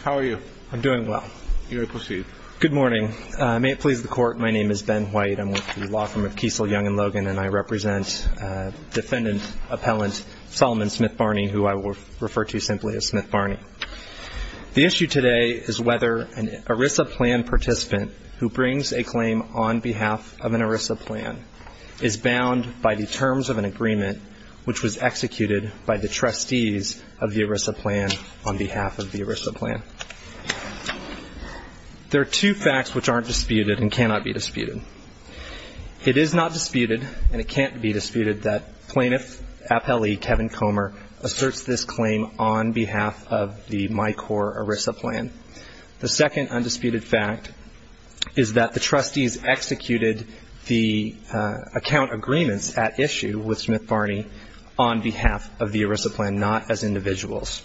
How are you? I'm doing well. You may proceed. Good morning. May it please the Court, my name is Ben White. I'm with the law firm of Kiesel, Young & Logan, and I represent Defendant Appellant Salomon Smith Barney, who I will refer to simply as Smith Barney. The issue today is whether an ERISA plan participant who brings a claim on behalf of an ERISA plan is bound by the terms of an agreement which was executed by the trustees of the ERISA plan on behalf of the ERISA plan. There are two facts which aren't disputed and cannot be disputed. It is not disputed, and it can't be disputed, that Plaintiff Appellee Kevin Comer asserts this claim on behalf of the MICOR ERISA plan. The second undisputed fact is that the trustees executed the account agreements at issue with Smith Barney on behalf of the ERISA plan, not as individuals.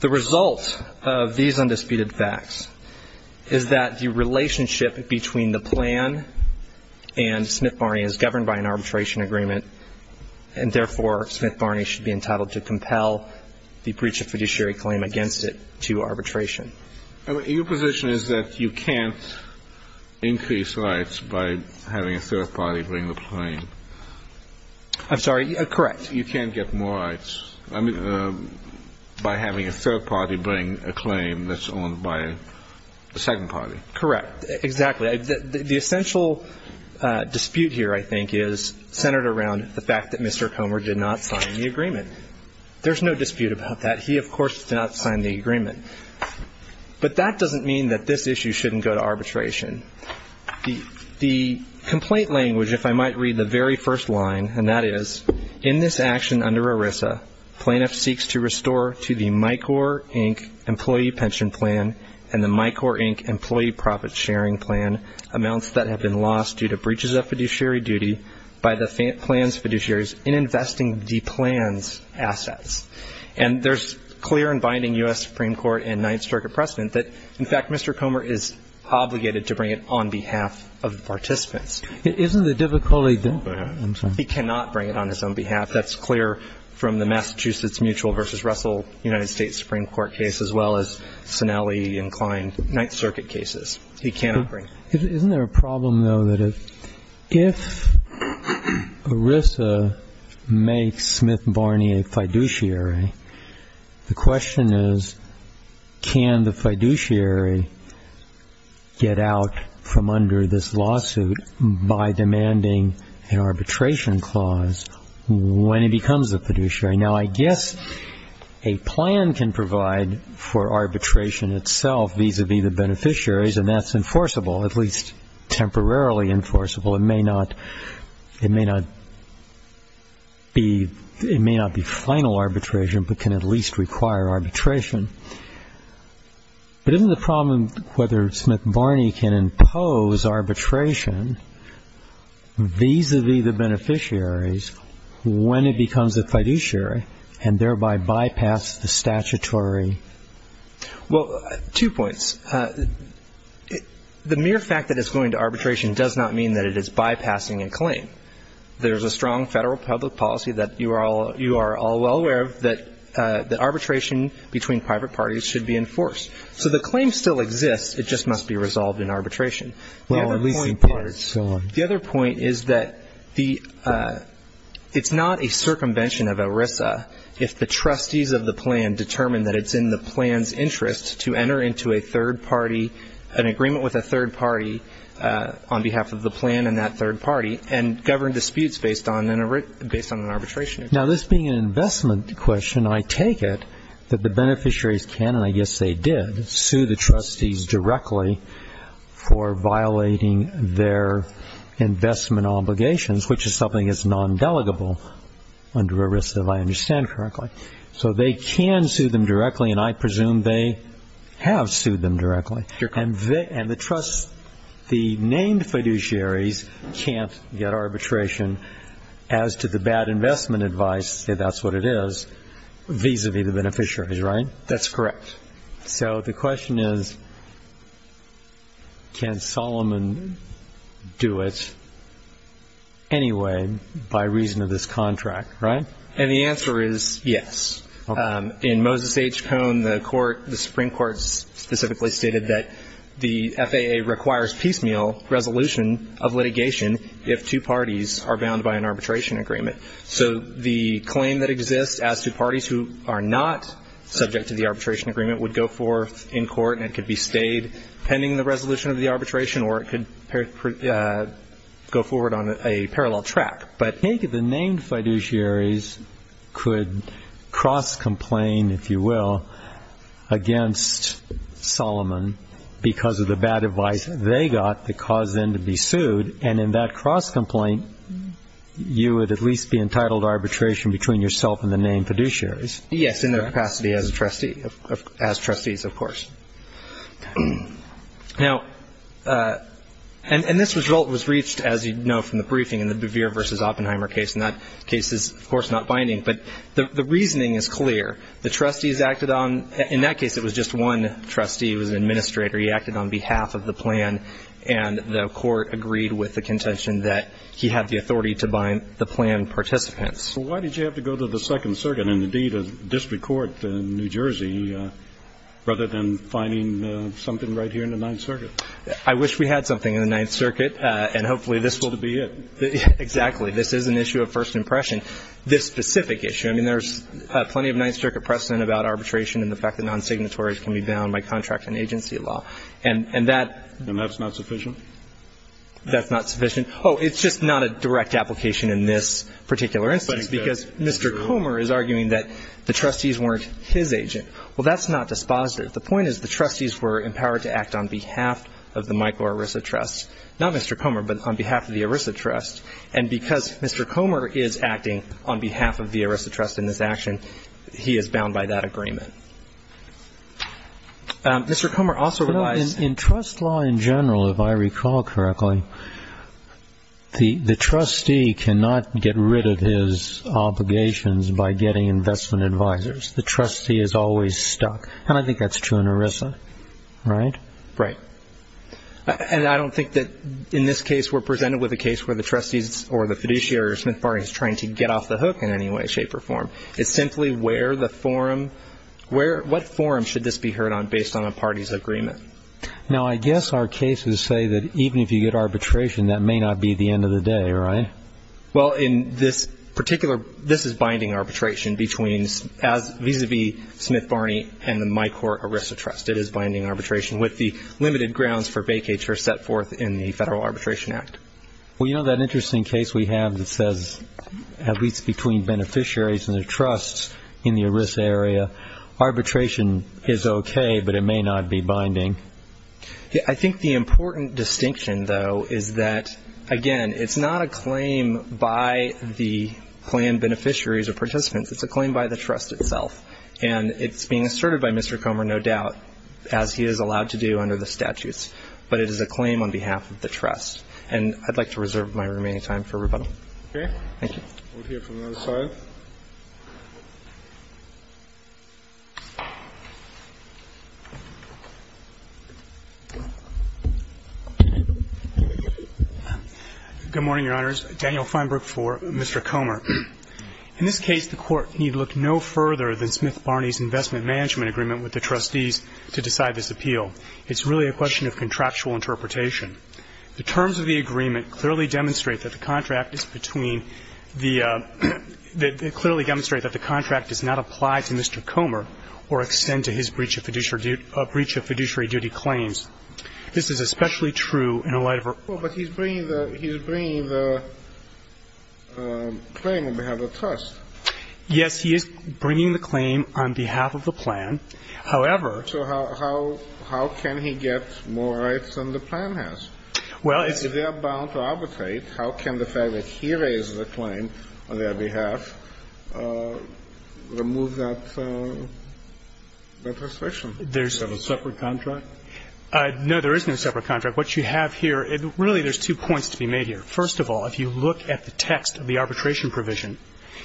The result of these undisputed facts is that the relationship between the plan and Smith Barney is governed by an arbitration agreement, and therefore Smith Barney should be entitled to compel the breach of fiduciary claim against it to arbitration. Your position is that you can't increase rights by having a third party bring the claim. I'm sorry? Correct. You can't get more rights by having a third party bring a claim that's owned by a second party. Correct. Exactly. The essential dispute here, I think, is centered around the fact that Mr. Comer did not sign the agreement. There's no dispute about that. He, of course, did not sign the agreement. But that doesn't mean that this issue shouldn't go to arbitration. The complaint language, if I might read the very first line, and that is, in this action under ERISA, plaintiff seeks to restore to the MICOR, Inc. Employee Pension Plan and the MICOR, Inc. Employee Profit Sharing Plan amounts that have been lost due to breaches of fiduciary duty by the plan's fiduciaries in investing the plan's assets. And there's clear and binding U.S. Supreme Court and Ninth Circuit precedent that, in fact, Mr. Comer is obligated to bring it on behalf of the participants. Isn't the difficulty there? I'm sorry? He cannot bring it on his own behalf. That's clear from the Massachusetts Mutual v. Russell United States Supreme Court case, as well as Sinelli-inclined Ninth Circuit cases. He cannot bring it. Isn't there a problem, though, that if ERISA makes Smith Barney a fiduciary, the question is, can the fiduciary get out from under this lawsuit by demanding an arbitration clause when he becomes a fiduciary? Now, I guess a plan can provide for arbitration itself vis-à-vis the beneficiaries, and that's enforceable, at least temporarily enforceable. It may not be final arbitration, but can at least require arbitration. But isn't the problem whether Smith Barney can impose arbitration vis-à-vis the beneficiaries when it becomes a fiduciary Well, two points. The mere fact that it's going to arbitration does not mean that it is bypassing a claim. There's a strong federal public policy that you are all well aware of, that arbitration between private parties should be enforced. So the claim still exists, it just must be resolved in arbitration. Well, at least in part. The other point is that it's not a circumvention of ERISA if the trustees of the plan determine that it's in the plan's interest to enter into a third party, an agreement with a third party on behalf of the plan and that third party, and govern disputes based on an arbitration agreement. Now, this being an investment question, I take it that the beneficiaries can, and I guess they did, sue the trustees directly for violating their investment obligations, which is something that's non-delegable under ERISA if I understand correctly. So they can sue them directly, and I presume they have sued them directly. And the named fiduciaries can't get arbitration as to the bad investment advice, if that's what it is, vis-à-vis the beneficiaries, right? That's correct. So the question is, can Solomon do it anyway by reason of this contract, right? And the answer is yes. In Moses H. Cohn, the Supreme Court specifically stated that the FAA requires piecemeal resolution of litigation if two parties are bound by an arbitration agreement. So the claim that exists as to parties who are not subject to the arbitration agreement would go forth in court and it could be stayed pending the resolution of the arbitration or it could go forward on a parallel track. But I think the named fiduciaries could cross-complain, if you will, against Solomon because of the bad advice they got that caused them to be sued, and in that cross-complaint, you would at least be entitled to arbitration between yourself and the named fiduciaries. Yes, in their capacity as trustees, of course. Now, and this result was reached, as you know, from the briefing in the Bevere v. Oppenheimer case, and that case is, of course, not binding. But the reasoning is clear. The trustees acted on – in that case, it was just one trustee who was an administrator. He acted on behalf of the plan and the court agreed with the contention that he had the authority to bind the plan participants. Well, why did you have to go to the Second Circuit and, indeed, a district court in New Jersey rather than finding something right here in the Ninth Circuit? I wish we had something in the Ninth Circuit and hopefully this will be it. Exactly. This is an issue of first impression, this specific issue. I mean, there's plenty of Ninth Circuit precedent about arbitration and the fact that non-signatories can be bound by contract and agency law. And that – And that's not sufficient? That's not sufficient. Oh, it's just not a direct application in this particular instance because Mr. Comer is arguing that the trustees weren't his agent. Well, that's not dispositive. The point is the trustees were empowered to act on behalf of the Michael Orrisa Trust, not Mr. Comer, but on behalf of the Orrisa Trust. And because Mr. Comer is acting on behalf of the Orrisa Trust in this action, he is bound by that agreement. Mr. Comer also relies – In trust law in general, if I recall correctly, the trustee cannot get rid of his obligations by getting investment advisors. The trustee is always stuck. And I think that's true in Orrisa, right? Right. And I don't think that in this case we're presented with a case where the trustees or the fiduciary or Smith Barney is trying to get off the hook in any way, shape, or form. It's simply where the forum – what forum should this be heard on based on a party's agreement? Now, I guess our cases say that even if you get arbitration, that may not be the end of the day, right? Well, in this particular – this is binding arbitration between – vis-à-vis Smith Barney and the Michael Orrisa Trust. It is binding arbitration with the limited grounds for vacatur set forth in the Federal Arbitration Act. Well, you know that interesting case we have that says, at least between beneficiaries and their trusts in the Orrisa area, arbitration is okay, but it may not be binding. I think the important distinction, though, is that, again, it's not a claim by the planned beneficiaries or participants. It's a claim by the trust itself. And it's being asserted by Mr. Comer, no doubt, as he is allowed to do under the statutes. But it is a claim on behalf of the trust. And I'd like to reserve my remaining time for rebuttal. Okay. Thank you. We'll hear from the other side. Good morning, Your Honors. Daniel Feinberg for Mr. Comer. In this case, the Court need look no further than Smith Barney's investment management agreement with the trustees to decide this appeal. It's really a question of contractual interpretation. The terms of the agreement clearly demonstrate that the contract is between the the clearly demonstrate that the contract does not apply to Mr. Comer or extend to his breach of fiduciary duty claims. This is especially true in light of our Well, but he's bringing the claim on behalf of the trust. Yes, he is bringing the claim on behalf of the plan. However, So how can he get more rights than the plan has? Well, If they are bound to arbitrate, how can the fact that he raises the claim on their behalf remove that restriction? Is there a separate contract? No, there is no separate contract. What you have here, really there's two points to be made here. First of all, if you look at the text of the arbitration provision,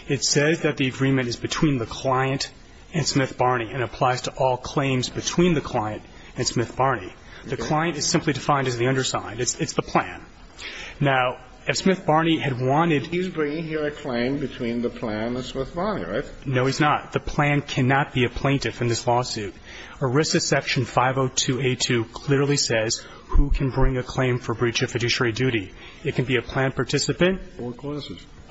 it says that the agreement is between the client and Smith Barney and applies to all claims between the client and Smith Barney. The client is simply defined as the underside. It's the plan. Now, if Smith Barney had wanted He's bringing here a claim between the plan and Smith Barney, right? No, he's not. The plan cannot be a plaintiff in this lawsuit. ERISA section 502A2 clearly says who can bring a claim for breach of fiduciary duty. It can be a plan participant or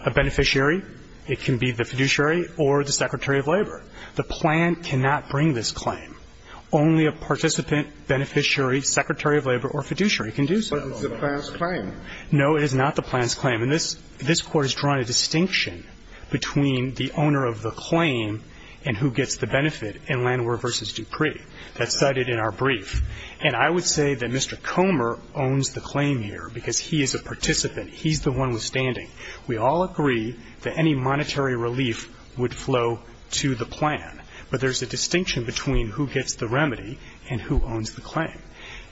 a beneficiary. It can be the fiduciary or the secretary of labor. The plan cannot bring this claim. Only a participant, beneficiary, secretary of labor or fiduciary can do so. But it's the plan's claim. No, it is not the plan's claim. And this Court has drawn a distinction between the owner of the claim and who gets the benefit in Landwehr v. Dupree. That's cited in our brief. And I would say that Mr. Comer owns the claim here because he is a participant. He's the one withstanding. We all agree that any monetary relief would flow to the plan. But there's a distinction between who gets the remedy and who owns the claim.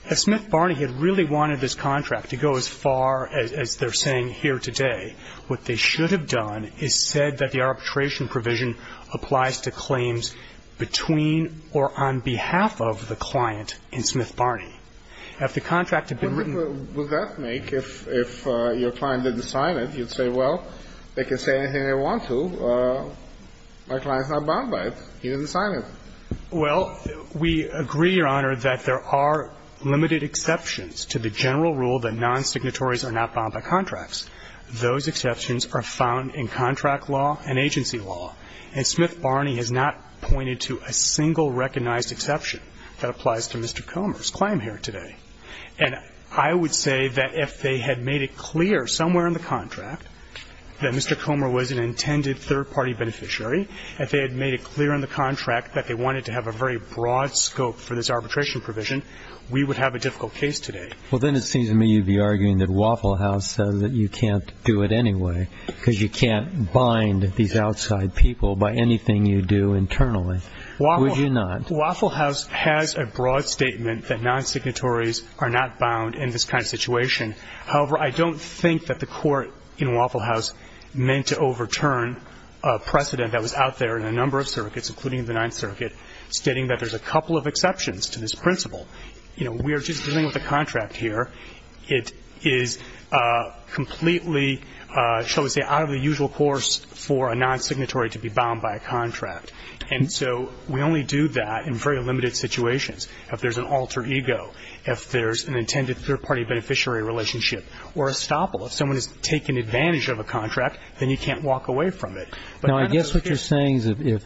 If Smith Barney had really wanted this contract to go as far as they're saying here today, what they should have done is said that the arbitration provision applies to claims between or on behalf of the client in Smith Barney. Now, if the contract had been written ---- What difference would that make if your client didn't sign it? You'd say, well, they can say anything they want to. My client's not bound by it. He didn't sign it. Well, we agree, Your Honor, that there are limited exceptions to the general rule that non-signatories are not bound by contracts. Those exceptions are found in contract law and agency law. And Smith Barney has not pointed to a single recognized exception that applies to Mr. Comer's claim here today. And I would say that if they had made it clear somewhere in the contract that Mr. Comer was an intended third-party beneficiary, if they had made it clear in the contract that they wanted to have a very broad scope for this arbitration provision, we would have a difficult case today. Well, then it seems to me you'd be arguing that Waffle House says that you can't do it anyway because you can't bind these outside people by anything you do internally. Would you not? Waffle House has a broad statement that non-signatories are not bound in this kind of situation. However, I don't think that the court in Waffle House meant to overturn a precedent that was out there in a number of circuits, including the Ninth Circuit, stating that there's a couple of exceptions to this principle. You know, we are just dealing with a contract here. It is completely, shall we say, out of the usual course for a non-signatory to be bound by a contract. And so we only do that in very limited situations. If there's an alter ego, if there's an intended third-party beneficiary relationship, or a stopple. If someone has taken advantage of a contract, then you can't walk away from it. Now, I guess what you're saying is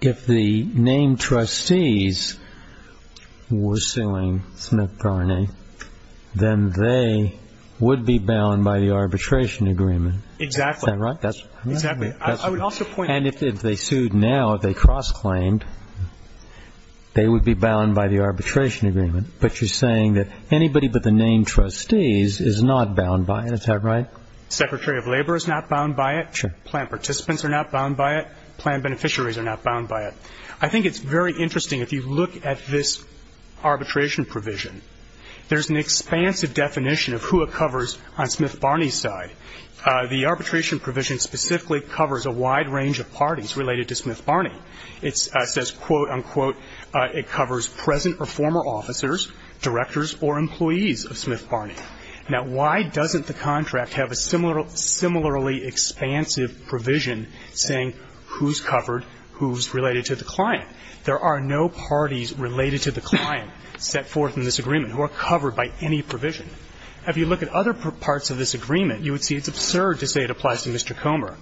if the named trustees were suing Smith-Garney, then they would be bound by the arbitration agreement. Exactly. Is that right? Exactly. And if they sued now, if they cross-claimed, they would be bound by the arbitration agreement. But you're saying that anybody but the named trustees is not bound by it. Is that right? Secretary of Labor is not bound by it. Sure. Plan participants are not bound by it. Plan beneficiaries are not bound by it. I think it's very interesting, if you look at this arbitration provision, there's an expansive definition of who it covers on Smith-Garney's side. The arbitration provision specifically covers a wide range of parties related to Smith-Garney. It says, quote, unquote, it covers present or former officers, directors, or employees of Smith-Garney. Now, why doesn't the contract have a similarly expansive provision saying who's covered, who's related to the client? There are no parties related to the client set forth in this agreement who are covered by any provision. If you look at other parts of this agreement, you would see it's absurd to say it applies to Mr. Comer.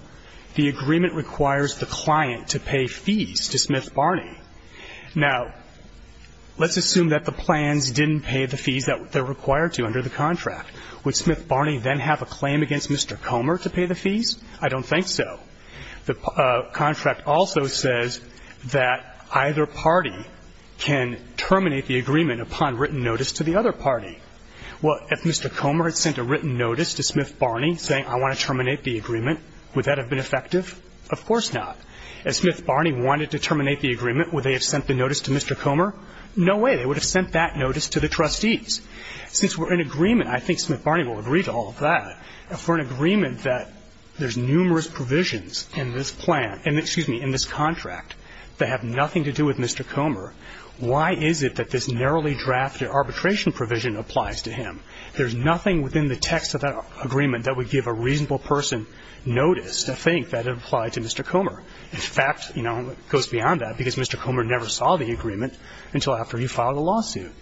The agreement requires the client to pay fees to Smith-Garney. Now, let's assume that the plans didn't pay the fees that they're required to under the contract. Would Smith-Garney then have a claim against Mr. Comer to pay the fees? I don't think so. The contract also says that either party can terminate the agreement upon written notice to the other party. Well, if Mr. Comer had sent a written notice to Smith-Garney saying I want to terminate the agreement, would that have been effective? Of course not. If Smith-Garney wanted to terminate the agreement, would they have sent the notice to Mr. Comer? No way. They would have sent that notice to the trustees. Since we're in agreement, I think Smith-Garney will agree to all of that. If we're in agreement that there's numerous provisions in this plan and, excuse me, in this contract that have nothing to do with Mr. Comer, why is it that this narrowly drafted arbitration provision applies to him? There's nothing within the text of that agreement that would give a reasonable person notice to think that it applied to Mr. Comer. In fact, you know, it goes beyond that because Mr. Comer never saw the agreement until after you filed a lawsuit.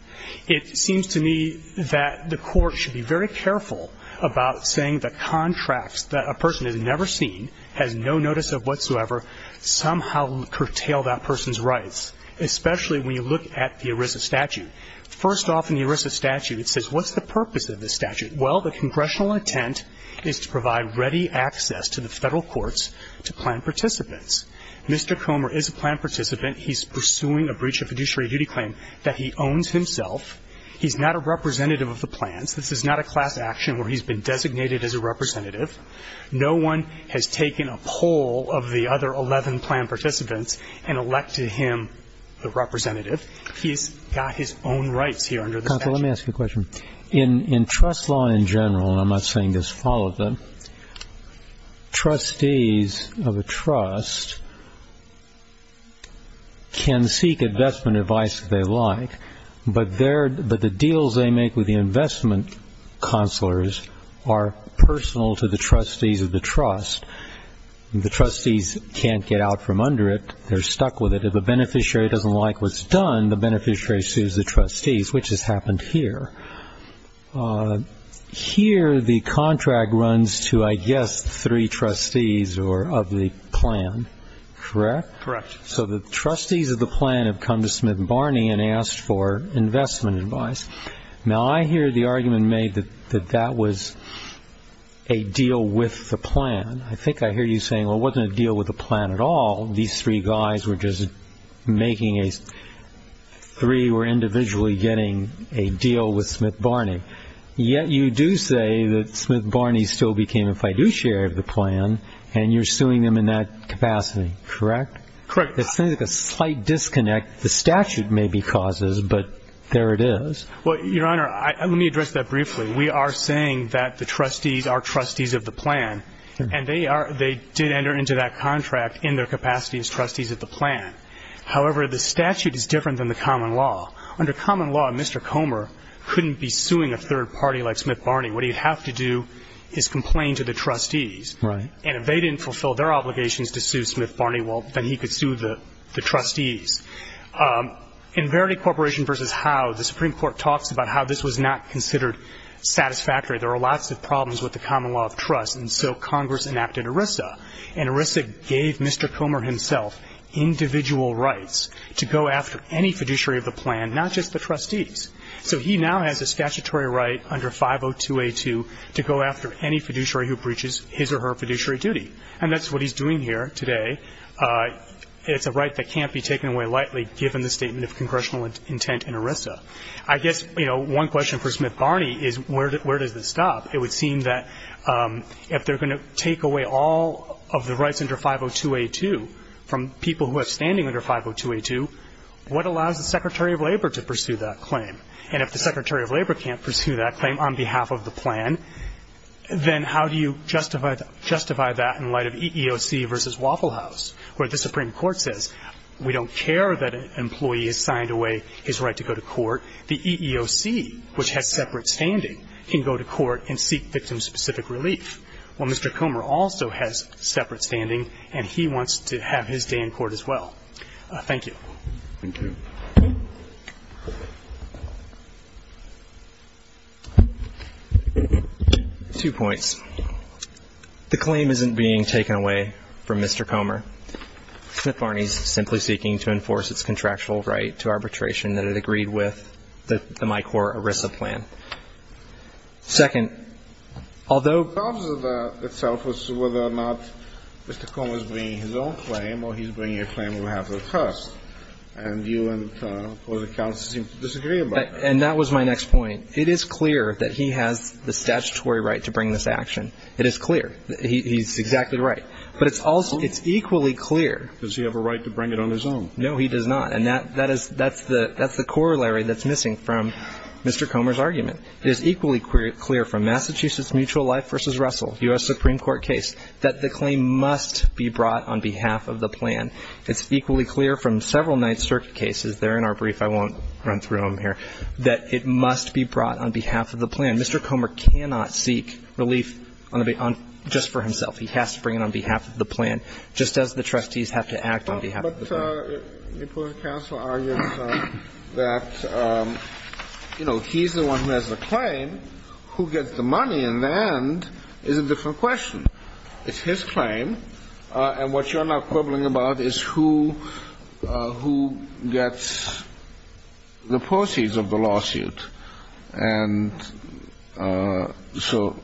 It seems to me that the Court should be very careful about saying the contracts that a person has never seen, has no notice of whatsoever, somehow curtail that person's rights, especially when you look at the ERISA statute. First off, in the ERISA statute, it says what's the purpose of this statute? Well, the congressional intent is to provide ready access to the Federal courts to plan participants. Mr. Comer is a plan participant. He's pursuing a breach of fiduciary duty claim that he owns himself. He's not a representative of the plans. This is not a class action where he's been designated as a representative. No one has taken a poll of the other 11 plan participants and elected him the representative. He's got his own rights here under the statute. Counsel, let me ask you a question. In trust law in general, and I'm not saying this follows it, trustees of a trust can seek investment advice if they like, but the deals they make with the investment counselors are personal to the trustees of the trust. The trustees can't get out from under it. They're stuck with it. If a beneficiary doesn't like what's done, the beneficiary sues the trustees, which has happened here. Here the contract runs to, I guess, three trustees of the plan, correct? Correct. So the trustees of the plan have come to Smith and Barney and asked for investment advice. Now, I hear the argument made that that was a deal with the plan. I think I hear you saying, well, it wasn't a deal with the plan at all. These three guys were just making a three were individually getting a deal with Smith Barney. Yet you do say that Smith Barney still became a fiduciary of the plan, and you're suing them in that capacity, correct? Correct. It seems like a slight disconnect. The statute may be causes, but there it is. Well, Your Honor, let me address that briefly. We are saying that the trustees are trustees of the plan, and they did enter into that contract in their capacity as trustees of the plan. However, the statute is different than the common law. Under common law, Mr. Comer couldn't be suing a third party like Smith Barney. What he'd have to do is complain to the trustees. Right. And if they didn't fulfill their obligations to sue Smith Barney, well, then he could sue the trustees. In Verity Corporation v. Howe, the Supreme Court talks about how this was not considered satisfactory. There were lots of problems with the common law of trust, and so Congress enacted And ERISA gave Mr. Comer himself individual rights to go after any fiduciary of the plan, not just the trustees. So he now has a statutory right under 502A2 to go after any fiduciary who breaches his or her fiduciary duty. And that's what he's doing here today. It's a right that can't be taken away lightly, given the statement of congressional intent in ERISA. I guess, you know, one question for Smith Barney is where does this stop? It would seem that if they're going to take away all of the rights under 502A2 from people who have standing under 502A2, what allows the Secretary of Labor to pursue that claim? And if the Secretary of Labor can't pursue that claim on behalf of the plan, then how do you justify that in light of EEOC v. Waffle House, where the Supreme Court says we don't care that an employee has signed away his right to go to court. The EEOC, which has separate standing, can go to court and seek victim-specific relief. Well, Mr. Comer also has separate standing, and he wants to have his day in court as well. Thank you. Thank you. Two points. The claim isn't being taken away from Mr. Comer. Smith Barney is simply seeking to enforce its contractual right to arbitration that it agreed with, the MICOR ERISA plan. Second, although ---- The problem itself is whether or not Mr. Comer is bringing his own claim or he's bringing a claim on behalf of the trust. And you and the Court of Appeals seem to disagree about that. And that was my next point. It is clear that he has the statutory right to bring this action. It is clear. He's exactly right. But it's also ñ it's equally clear ñ Does he have a right to bring it on his own? No, he does not. And that is ñ that's the corollary that's missing from Mr. Comer's argument. It is equally clear from Massachusetts Mutual Life v. Russell, U.S. Supreme Court case, that the claim must be brought on behalf of the plan. It's equally clear from several Ninth Circuit cases ñ they're in our brief. I won't run through them here ñ that it must be brought on behalf of the plan. Mr. Comer cannot seek relief on the ñ just for himself. He has to bring it on behalf of the plan, just as the trustees have to act on behalf of the plan. But the appellate counsel argues that, you know, he's the one who has the claim. Who gets the money in the end is a different question. It's his claim. And what you're now quibbling about is who gets the proceeds of the lawsuit. And so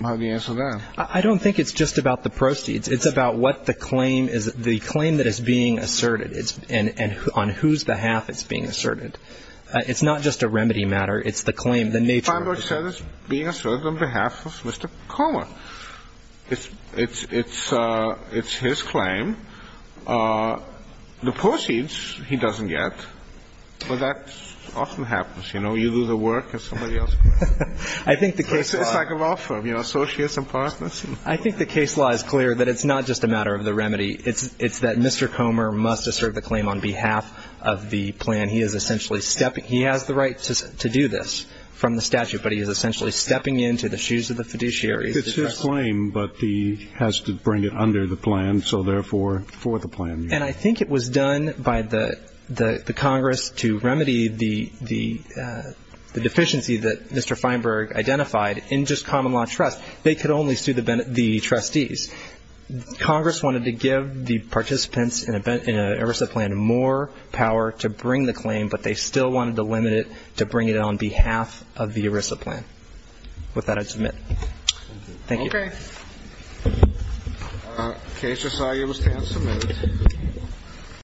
how do you answer that? I don't think it's just about the proceeds. It's about what the claim is ñ the claim that is being asserted and on whose behalf it's being asserted. It's not just a remedy matter. It's the claim, the nature of the claim. Feinberg says it's being asserted on behalf of Mr. Comer. It's his claim. The proceeds he doesn't get, but that often happens. You know, you do the work and somebody else does it. I think the case law ñ It's like a law firm, you know, associates and partners. I think the case law is clear that it's not just a matter of the remedy. It's that Mr. Comer must assert the claim on behalf of the plan. He is essentially stepping ñ he has the right to do this from the statute, but he is essentially stepping into the shoes of the fiduciary. It's his claim, but he has to bring it under the plan, so therefore for the plan. And I think it was done by the Congress to remedy the deficiency that Mr. Feinberg identified in just common law trust. They could only sue the trustees. Congress wanted to give the participants in an ERISA plan more power to bring the claim, but they still wanted to limit it to bring it on behalf of the ERISA plan. With that, I submit. Thank you. Okay. The case is now able to stand for a minute.